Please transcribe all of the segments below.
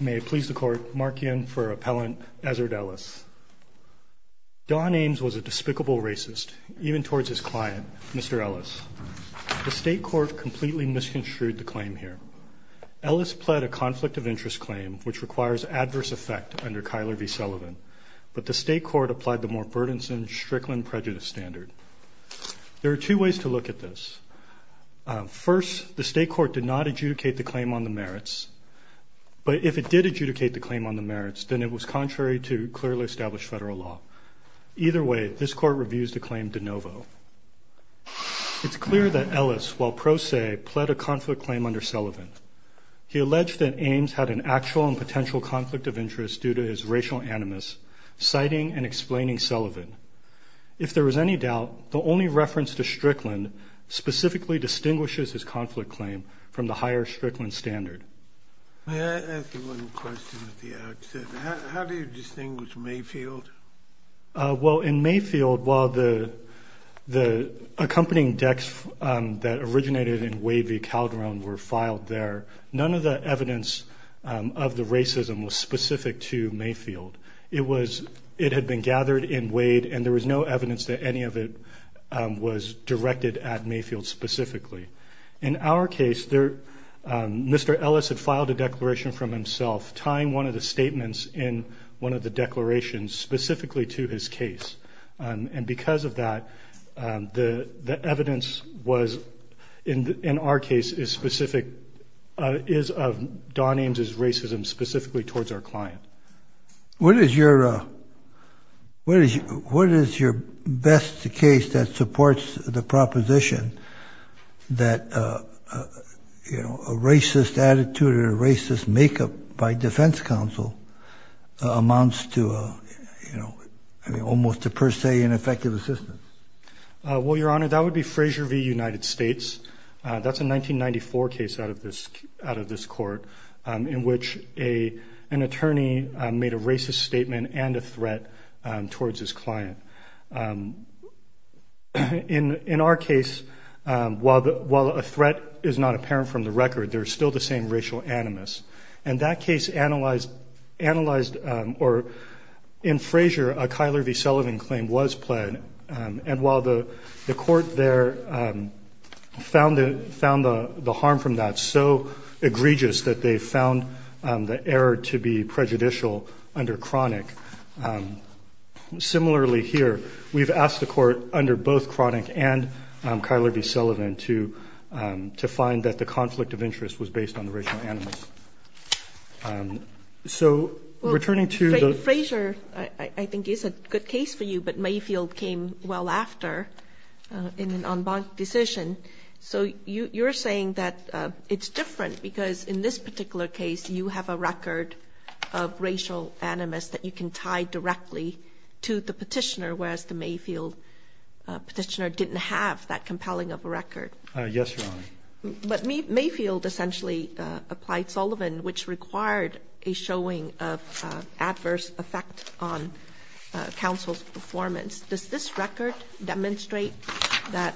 May it please the court, Mark Ian for Appellant Ezzard Ellis. Don Ames was a despicable racist, even towards his client, Mr. Ellis. The state court completely misconstrued the claim here. Ellis pled a conflict of interest claim which requires adverse effect under Kyler v. Sullivan, but the state court applied the more burdensome Strickland prejudice standard. There are two ways to adjudicate the claim on the merits, but if it did adjudicate the claim on the merits, then it was contrary to clearly established federal law. Either way, this court reviews the claim de novo. It's clear that Ellis, while pro se, pled a conflict claim under Sullivan. He alleged that Ames had an actual and potential conflict of interest due to his racial animus, citing and explaining Sullivan. If there was any doubt, the only reference to Strickland specifically distinguishes his conflict claim from the higher Strickland standard. May I ask you one question at the outset? How do you distinguish Mayfield? Well in Mayfield, while the the accompanying decks that originated in Wade v. Calderon were filed there, none of the evidence of the racism was specific to Mayfield. It had been gathered in Wade and there was no evidence directed at Mayfield specifically. In our case, Mr. Ellis had filed a declaration from himself, tying one of the statements in one of the declarations specifically to his case. And because of that, the evidence was, in our case, is specific, is of Don Ames' racism specifically towards our client. What is your best case that supports the proposition that, you know, a racist attitude or racist makeup by defense counsel amounts to, you know, I mean almost to per se an effective assistance? Well, Your Honor, that would be Fraser v. United States. That's a 1994 case out of this out of this court in which an attorney made a racist statement and a threat towards his client. In our case, while a threat is not apparent from the record, there's still the same racial animus. And that case analyzed, or in Fraser, a Kyler v. Sullivan claim was pled. And while the court there found the harm from that so egregious that they found the error to be prejudicial under chronic, similarly here, we've asked the court under both chronic and Kyler v. Sullivan to to find that the conflict of interest was based on the racial animus. So returning to... Fraser, I think, is a good case for you, but Mayfield came well after in an en banc decision. So you're saying that it's different because in this particular case, you have a record of racial animus that you can tie directly to the petitioner, whereas the Mayfield petitioner didn't have that compelling of a record. Yes, Your Honor. But Mayfield essentially applied Sullivan, which required a showing of adverse effect on counsel's performance. Does this record demonstrate that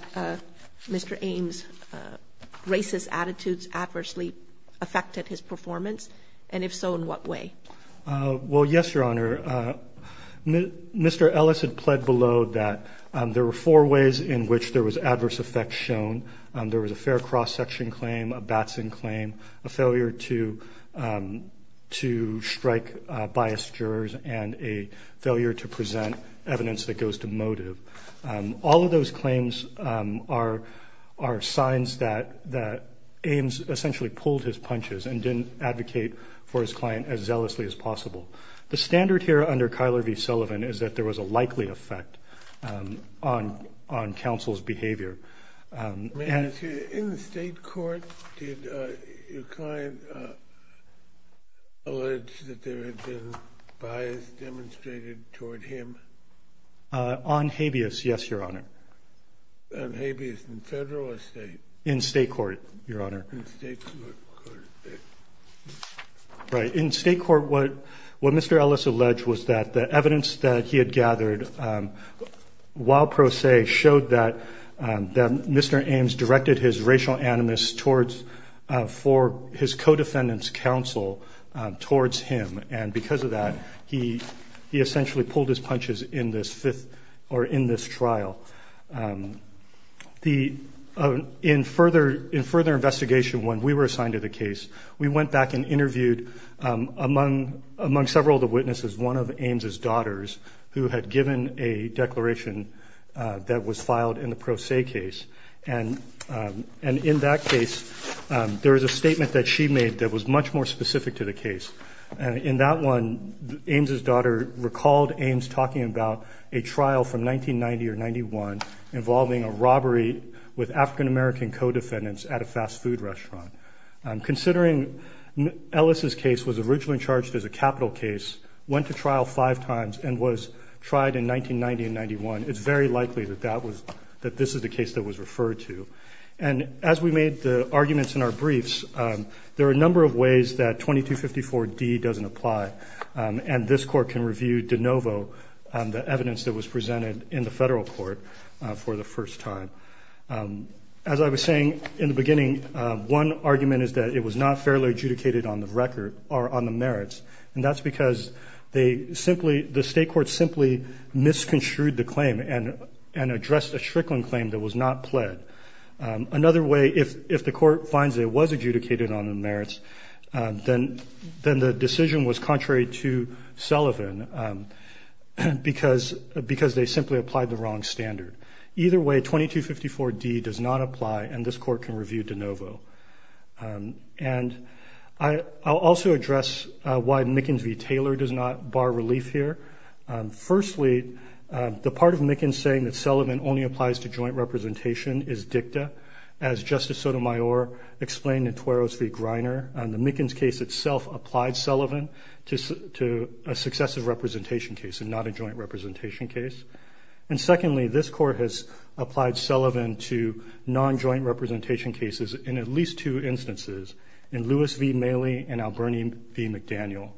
Mr. Ames' racist attitudes adversely affected his performance? And if so, in what way? Well, yes, Your Honor. Mr. Ellis had pled below that there were four ways in which there was adverse effect shown. There was a fair cross-section claim, a Batson claim, a failure to to strike biased jurors and a failure to present evidence that goes to motive. All of those claims are are signs that that Ames essentially pulled his punches and didn't advocate for his client as zealously as possible. The standard here under Kyler v. Sullivan is that there was a likely effect on on counsel's behavior. In the state court, did your client allege that there had been bias demonstrated toward him? On habeas, yes, Your Honor. On habeas in federal or state? In state court, Your Honor. Right, in state court, what what Mr. Ellis alleged was that the evidence that he had gathered, while pro se, showed that that Mr. Ames directed his racial animus towards for his co-defendants counsel towards him and because of that he he essentially pulled his punches in this fifth or in this trial. The in further in further investigation when we were assigned to the case, we went back and interviewed among among several of the witnesses one of Ames's daughters who had given a declaration that was filed in the pro se case and and in that case there is a statement that she made that was much more specific to the case and in that one Ames's daughter recalled Ames talking about a trial from 1990 or 91 involving a robbery with African-American co-defendants at a fast-food restaurant. Considering Ellis's case was originally charged as a capital case, went to trial five times and was tried in 1990 and 91, it's very likely that that was that this is the case that was referred to and as we made the arguments in our briefs there are a number of ways that 2254 D doesn't apply and this court can review de novo the evidence that was presented in the federal court for the first time. As I was saying in the beginning, one argument is that it was not fairly adjudicated on the record or on the merits and that's because they simply the state court simply misconstrued the claim and and addressed a Strickland claim that was not pled. Another way if if the court finds it was adjudicated on the merits then then the decision was contrary to Sullivan because because they simply applied the wrong standard. Either way 2254 D does not apply and this court can review de So let's discuss why Mickens v. Taylor does not bar relief here. Firstly, the part of Mickens saying that Sullivan only applies to joint representation is dicta. As Justice Sotomayor explained in Tueros v. Greiner, the Mickens case itself applied Sullivan to a successive representation case and not a joint representation case. And secondly this court has applied Sullivan to non-joint representation cases in at least two instances in Lewis v. Maley and Alberni v. McDaniel.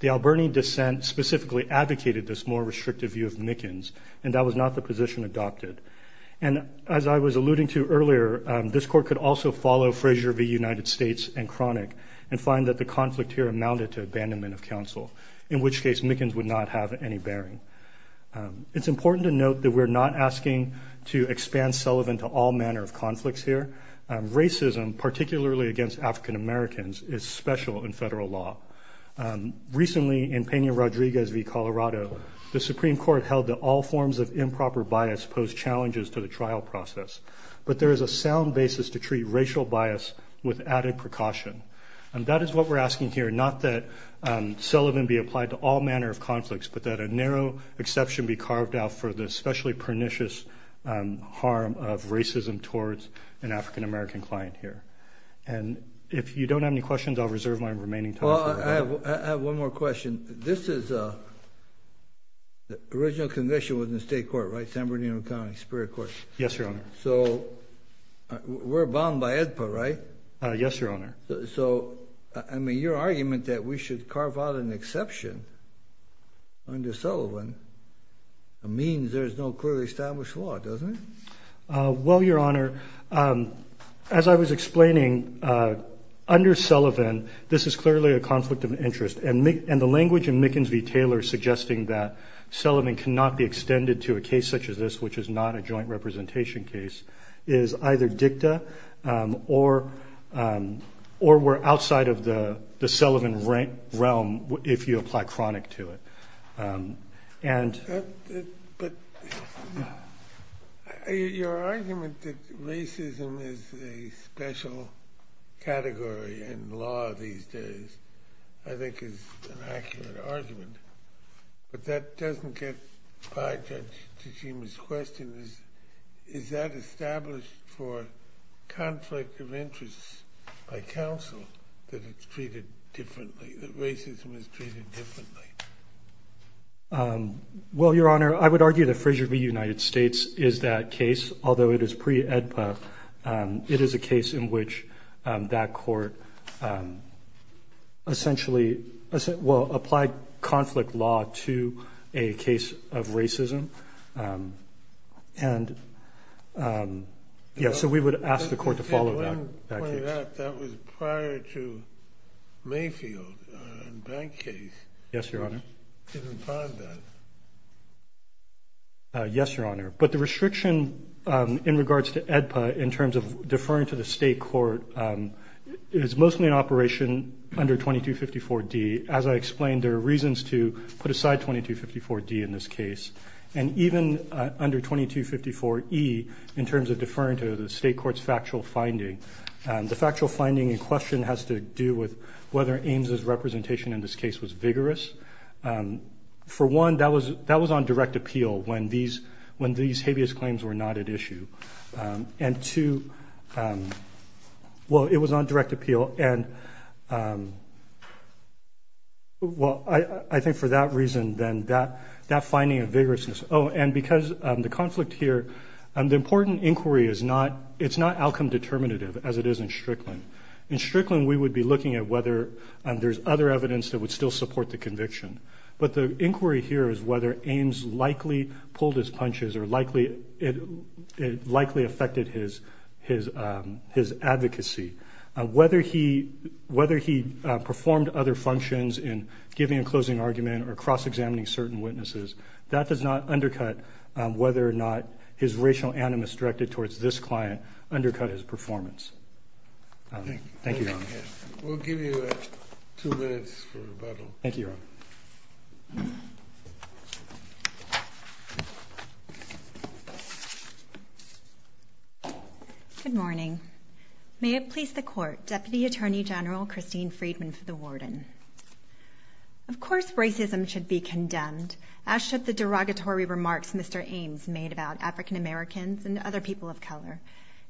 The Alberni dissent specifically advocated this more restrictive view of Mickens and that was not the position adopted. And as I was alluding to earlier, this court could also follow Frazier v. United States and Cronic and find that the conflict here amounted to abandonment of counsel, in which case Mickens would not have any bearing. It's important to note that we're not asking to expand Sullivan to all manner of conflicts here. Racism, particularly against African Americans, is special in federal law. Recently in Pena-Rodriguez v. Colorado, the Supreme Court held that all forms of improper bias pose challenges to the trial process, but there is a sound basis to treat racial bias with added precaution. And that is what we're asking here, not that Sullivan be applied to all manner of conflicts, but that a narrow exception be carved out for the especially pernicious harm of racism towards an African-American client here. And if you don't have any questions, I'll reserve my remaining time. Well, I have one more question. This is a original condition within the state court, right? San Bernardino County Superior Court. Yes, Your Honor. So we're bound by AEDPA, right? Yes, Your Honor. So, I mean, your argument that we should carve out an exception under Sullivan means there's no clearly established law, doesn't it? Well, Your Honor, as I was explaining, under Sullivan, this is clearly a conflict of interest. And the language in Mickens v. Taylor suggesting that Sullivan cannot be extended to a case such as this, which is not a joint representation case, is either dicta or we're outside of the joint realm if you apply chronic to it. Your argument that racism is a special category in law these days, I think, is an accurate argument. But that doesn't get by Judge Tajima's question. Is that established for conflict of interest by the court that racism is treated differently? Well, Your Honor, I would argue that Frasier v. United States is that case. Although it is pre-AEDPA, it is a case in which that court essentially, well, applied conflict law to a case of bank case. Yes, Your Honor. Yes, Your Honor. But the restriction in regards to AEDPA in terms of deferring to the state court is mostly an operation under 2254 D. As I explained, there are reasons to put aside 2254 D in this case. And even under 2254 E, in terms of deferring to the state court's factual finding, the factual finding in question has to do with whether Ames' representation in this case was vigorous. For one, that was on direct appeal when these habeas claims were not at issue. And two, well, it was on direct appeal and, well, I think for that reason, then that finding of vigorousness. Oh, and because the conflict here, the important inquiry is not outcome determinative as it is in Strickland. In Strickland, we would be looking at whether there's other evidence that would still support the conviction. But the inquiry here is whether Ames likely pulled his punches or likely affected his advocacy. Whether he performed other functions in giving a closing argument or cross-examining certain witnesses, that does not undercut whether or not his racial animus directed towards this client undercut his performance. Thank you. We'll give you two minutes for rebuttal. Thank you, Your Honor. Good morning. May it please the Court, Deputy Attorney General Christine Friedman for the Warden. Of course racism should be condemned, as should the derogatory remarks Mr. Ames made about African-Americans and other people of color.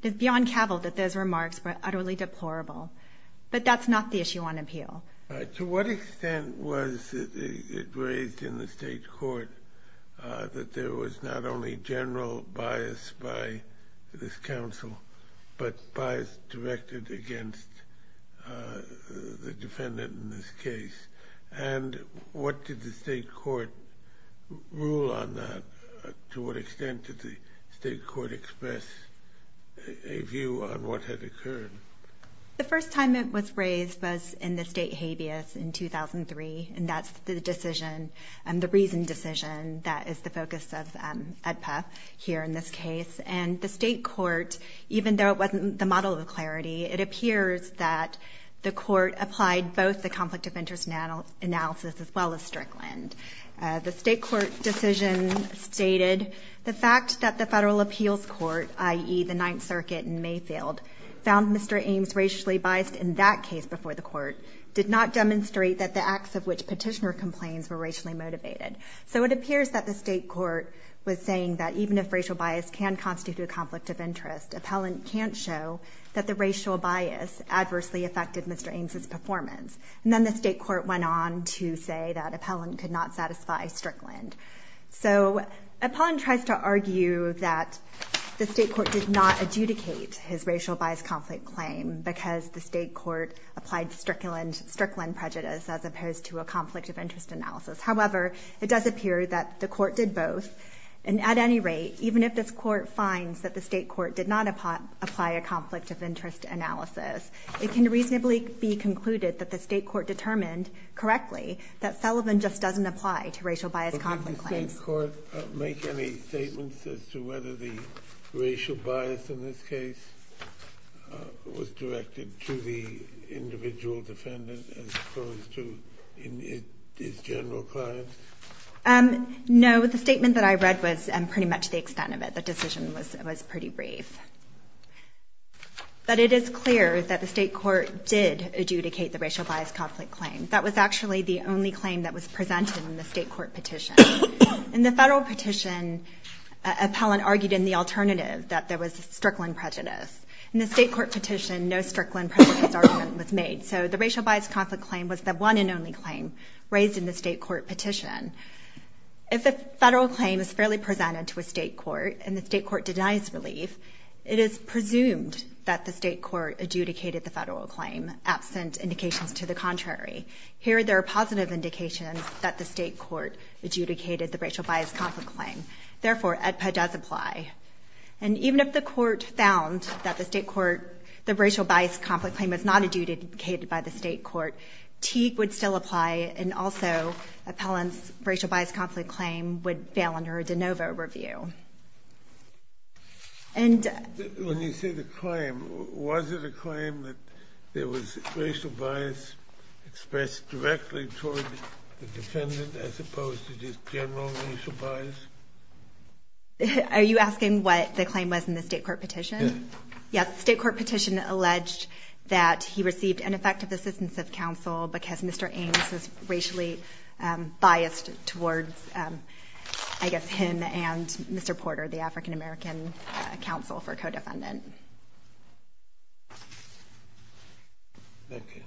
It's beyond cavil that those remarks were utterly deplorable. But that's not the issue on appeal. To what extent was it raised in the state court that there was not only general bias by this counsel, but bias directed against the defendant in this case? And what did the state court rule on that? To what extent did the state court give a view on what had occurred? The first time it was raised was in the state habeas in 2003, and that's the decision and the reason decision that is the focus of EDPA here in this case. And the state court, even though it wasn't the model of clarity, it appears that the court applied both the conflict of interest analysis as well as Strickland. The state court decision stated the fact that the federal appeals court, i.e. the Ninth Circuit in Mayfield, found Mr. Ames racially biased in that case before the court did not demonstrate that the acts of which petitioner complains were racially motivated. So it appears that the state court was saying that even if racial bias can constitute a conflict of interest, appellant can't show that the racial bias adversely affected Mr. Ames's performance. And then the state court went on to say that appellant could not satisfy Strickland. So appellant tries to argue that the state court did not adjudicate his racial bias conflict claim because the state court applied Strickland prejudice as opposed to a conflict of interest analysis. However, it does appear that the court did both. And at any rate, even if this court finds that the state court did not apply a conflict of interest analysis, it can reasonably be concluded that the state court determined correctly that Sullivan just doesn't apply to racial bias conflict claims. The same court make any statements as to whether the racial bias in this case was directed to the individual defendant as opposed to his general client? No. The statement that I read was pretty much the extent of it. The decision was pretty brief. But it is clear that the state court did adjudicate the racial bias conflict claim. That was actually the only claim that was presented in the state court petition. In the federal petition, appellant argued in the alternative that there was Strickland prejudice. In the state court petition, no Strickland prejudice argument was made. So the racial bias conflict claim was the one and only claim raised in the state court petition. If a federal claim is fairly presented to a state court and the state court denies relief, it is presumed that the state court adjudicated the federal claim, absent indications to the contrary. Here, there are positive indications that the state court adjudicated the racial bias conflict claim. Therefore, AEDPA does apply. And even if the court found that the state court, the racial bias conflict claim was not adjudicated by the state court, Teague would still apply. And also, appellant's racial bias conflict claim would fail under a de novo review. When you say the claim, was it a claim that there was racial bias expressed directly toward the defendant as opposed to just general racial bias? Are you asking what the claim was in the state court petition? Yes. State court petition alleged that he received ineffective assistance of counsel because Mr. Ames was racially biased towards, I guess, him and Mr. Porter, the African-American counsel for a co-defendant. Thank you.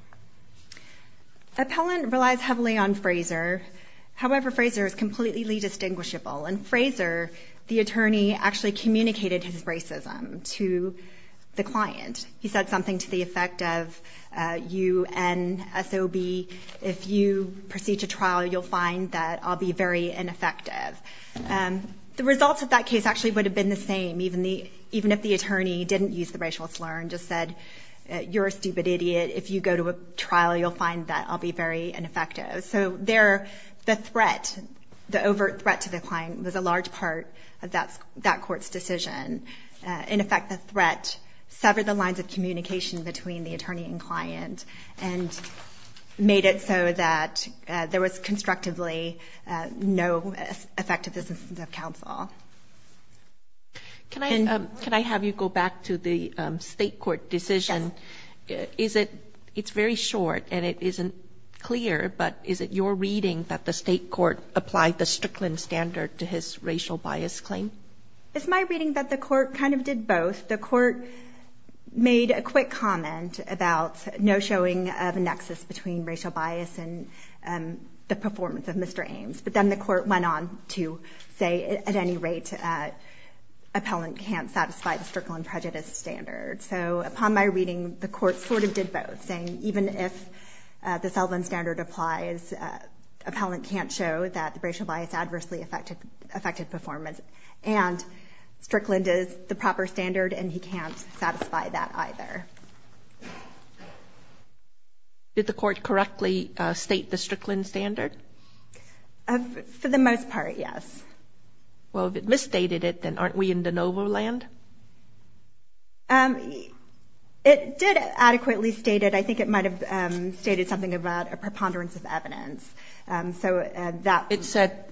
Appellant relies heavily on Frazier. However, Frazier is completely distinguishable. In Frazier, the attorney actually communicated his racism to the client. He said something to the effect of, you and SOB, if you proceed to trial, you'll find that I'll be very ineffective. The results of that case actually would have been the same, even if the attorney didn't use the racial slur and just said, you're a stupid idiot. If you go to a trial, you'll find that I'll be very ineffective. So there, the threat, the overt threat to the client was a large part of that court's decision. In effect, the threat severed the lines of communication between the attorney and client and made it so that there was constructively no effective assistance of counsel. Can I have you go back to the state court decision? Yes. Is it, it's very short and it isn't clear, but is it your reading that the state court applied the Strickland standard to his racial bias claim? It's my reading that the court kind of did both. The court made a quick comment about no showing of a nexus between racial bias and the performance of Mr. Ames. But then the court went on to say at any rate, appellant can't satisfy the Strickland prejudice standard. So upon my reading, the court sort of did both, saying even if the Sullivan standard applies, appellant can't show that the racial bias adversely affected performance. And Strickland is the proper standard and he can't satisfy that either. Did the court correctly state the Strickland standard? For the most part, yes. Well, if it misstated it, then aren't we in de novo land? It did adequately state it. I think it might have stated something about a preponderance of evidence. So that it said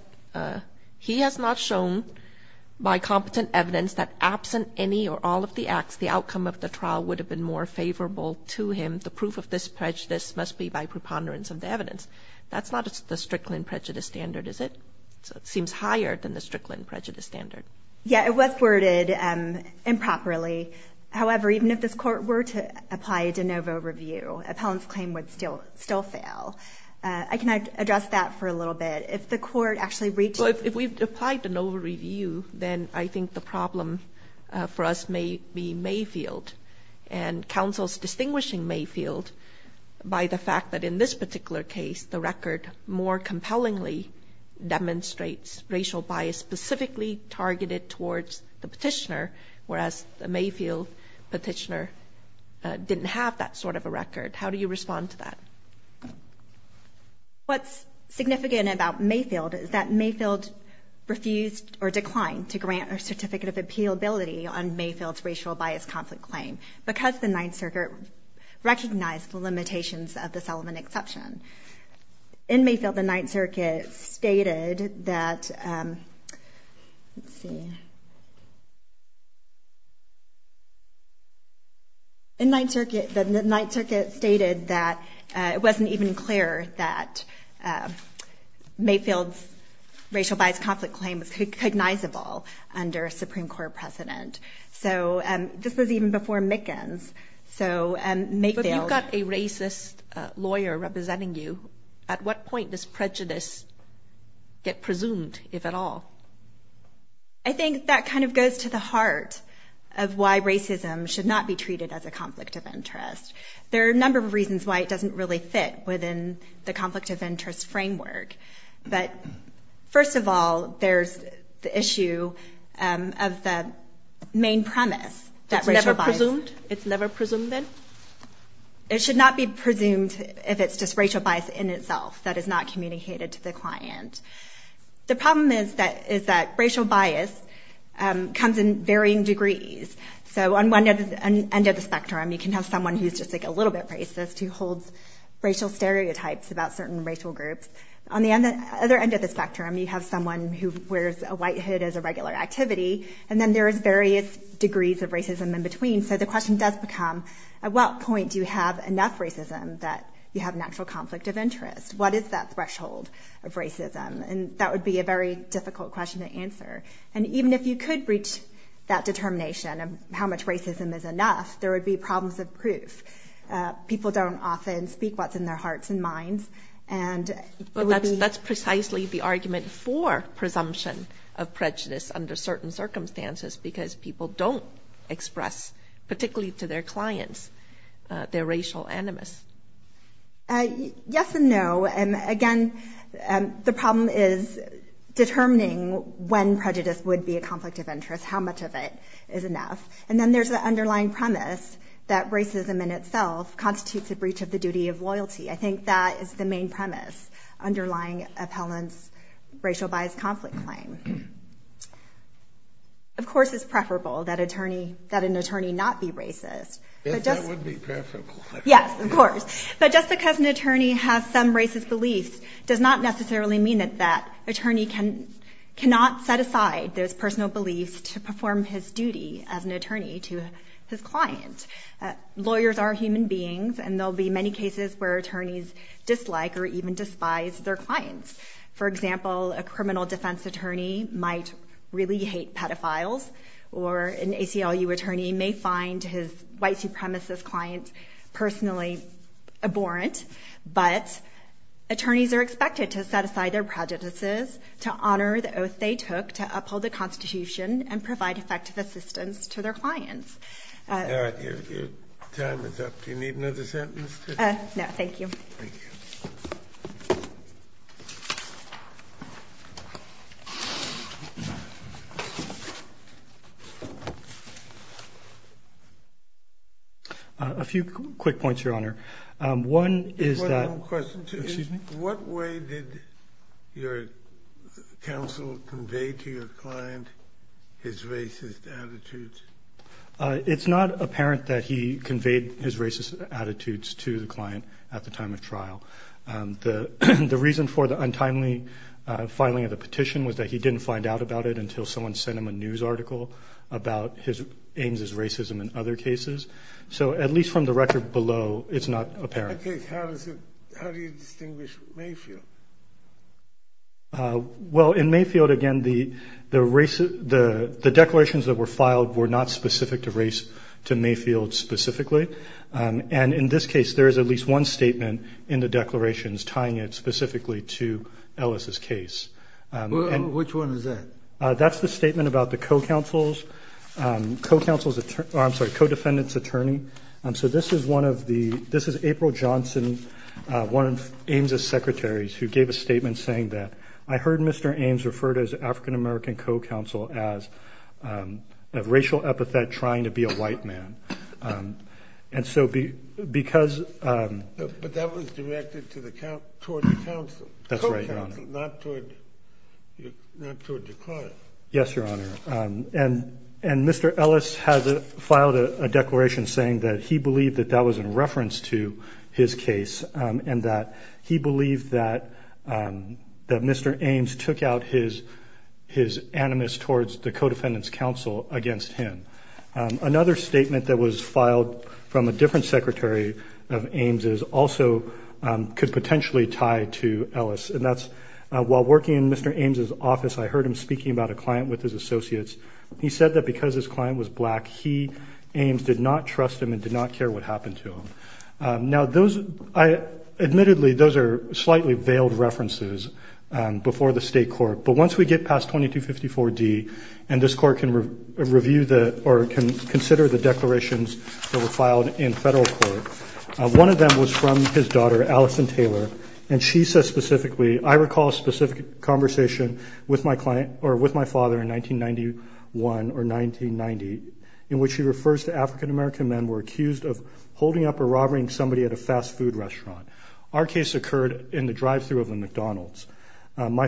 he has not shown by competent evidence that absent any or all of the acts, the outcome of the trial would have been more favorable to him. The proof of this prejudice must be by preponderance of the evidence. That's not the Strickland prejudice standard, is it? It seems higher than the Strickland prejudice standard. Yeah, it was worded improperly. However, even if this court were to apply a de novo review, appellant's claim would still fail. I can address that for a little bit. If the court actually reads it. So if we've applied de novo review, then I think the problem for us may be Mayfield. And counsel's distinguishing Mayfield by the fact that in this particular case, the record more compellingly demonstrates racial bias specifically targeted towards the petitioner, whereas the Mayfield petitioner didn't have that sort of a record. How do you respond to that? What's significant about Mayfield is that Mayfield refused or declined to grant a certificate of appeal ability on Mayfield's racial bias conflict claim because the Ninth Circuit recognized the limitations of the Sullivan exception. In Mayfield, the Ninth Circuit stated that, let's see. In Ninth Circuit, the Ninth Circuit stated that it wasn't even clear that Mayfield's racial bias conflict claim was cognizable under a Supreme Court precedent. So this was even before Mickens. So Mayfield got a racist lawyer representing you. At what point does prejudice get presumed, if at all? I think that kind of goes to the heart of why racism should not be treated as a conflict of interest. There are a number of reasons why it doesn't really fit within the conflict of interest framework. But first of all, there's the issue of the main premise. It's never presumed? It's never presumed, then? It should not be presumed if it's just racial bias in itself that is not communicated to the client. The problem is that racial bias comes in varying degrees. So on one end of the spectrum, you can have someone who's just a little bit racist who holds racial stereotypes about certain racial groups. On the other end of the spectrum, you have someone who wears a white hood as a regular activity. And then there is various degrees of racism in between. So the question does become, at what point do you have enough racism that you have an actual conflict of interest? What is that threshold of racism? And that would be a very difficult question to answer. And even if you could reach that determination of how much racism is enough, there would be problems of proof. People don't often speak what's in their hearts and minds. But that's precisely the argument for presumption of prejudice under certain circumstances, because people don't express, particularly to their clients, their racial animus. Yes and no. And again, the problem is determining when prejudice would be a conflict of interest, how much of it is enough. And then there's the underlying premise that racism in itself constitutes a breach of the duty of loyalty. I think that is the main premise underlying appellant's racial bias conflict claim. Of course, it's preferable that an attorney not be racist. Yes, that would be preferable. Yes, of course. But just because an attorney has some racist beliefs does not necessarily mean that that attorney cannot set aside those personal beliefs to perform his duty as an attorney to his client. Lawyers are human beings, and there will be many cases where attorneys dislike or even despise their clients. For example, a criminal defense attorney might really hate pedophiles, or an ACLU attorney may find his white supremacist client personally abhorrent. But attorneys are expected to set aside their prejudices to honor the oath they took to uphold the Constitution and provide effective assistance to their clients. Your time is up. Do you need another sentence? No, thank you. Thank you. A few quick points, Your Honor. One is that what way did your counsel convey to your client his racist attitudes? It's not apparent that he conveyed his racist attitudes to the client at the time of trial. The reason for the untimely filing of the petition was that he didn't find out about it until someone sent him a news article about Ames' racism in other cases. So at least from the record below, it's not apparent. Okay. How do you distinguish Mayfield? Well, in Mayfield, again, the declarations that were filed were not specific to Mayfield specifically. And in this case, there is at least one statement in the declarations tying it specifically to Ellis' case. Which one is that? That's the statement about the co-defendant's attorney. So this is April Johnson, one of Ames' secretaries, who gave a statement saying that, I heard Mr. Ames refer to his African-American co-counsel as a racial epithet trying to be a white man. But that was directed toward the counsel. That's right, Your Honor. Not toward the client. Yes, Your Honor. And Mr. Ellis filed a declaration saying that he believed that that was in reference to his case and that he believed that Mr. Ames took out his animus towards the co-defendant's counsel against him. Another statement that was filed from a different secretary of Ames' also could potentially tie to Ellis. And that's, while working in Mr. Ames' office, I heard him speaking about a client with his associates. He said that because his client was black, he, Ames, did not trust him and did not care what happened to him. Now, admittedly, those are slightly veiled references before the state court. But once we get past 2254D and this court can review the or can consider the declarations that were filed in federal court, one of them was from his daughter, Allison Taylor, and she says specifically, I recall a specific conversation with my father in 1991 or 1990, in which he refers to African-American men were accused of holding up or robbing somebody at a fast food restaurant. Our case occurred in the drive-through of a McDonald's. My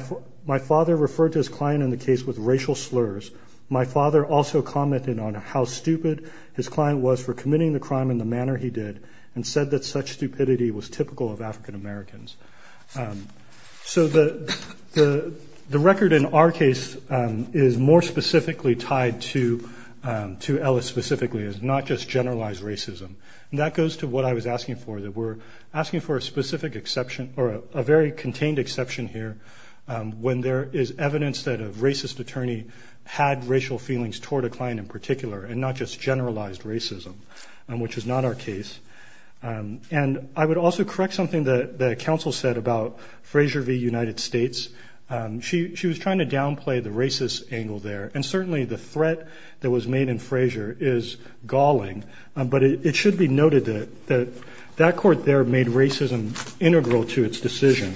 father referred to his client in the case with racial slurs. My father also commented on how stupid his client was for committing the crime in the manner he did and said that such stupidity was typical of African-Americans. So the record in our case is more specifically tied to Ellis specifically, not just generalized racism. That goes to what I was asking for, that we're asking for a specific exception or a very contained exception here when there is evidence that a racist attorney had racial feelings toward a client in particular and not just generalized racism, which is not our case. And I would also correct something that the counsel said about Fraser v. United States. She was trying to downplay the racist angle there. And certainly the threat that was made in Fraser is galling, but it should be noted that that court there made racism integral to its decision.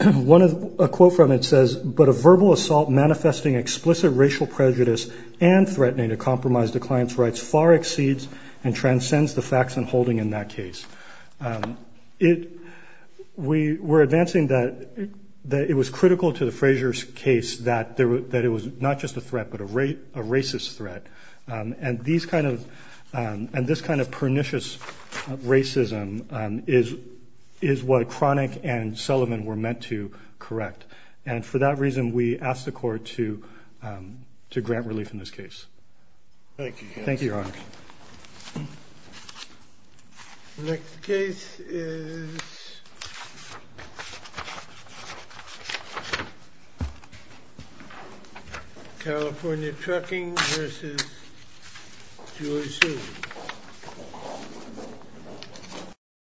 A quote from it says, but a verbal assault manifesting explicit racial prejudice and threatening to compromise the client's rights far exceeds and transcends the facts and holding in that case. We were advancing that it was critical to the Fraser case that it was not just a threat, but a racist threat. And this kind of pernicious racism is what Cronick and Sullivan were meant to correct. And for that reason, we asked the court to grant relief in this case. Thank you, Your Honor. Thank you, Your Honor. The next case is California Trucking v. George Susan.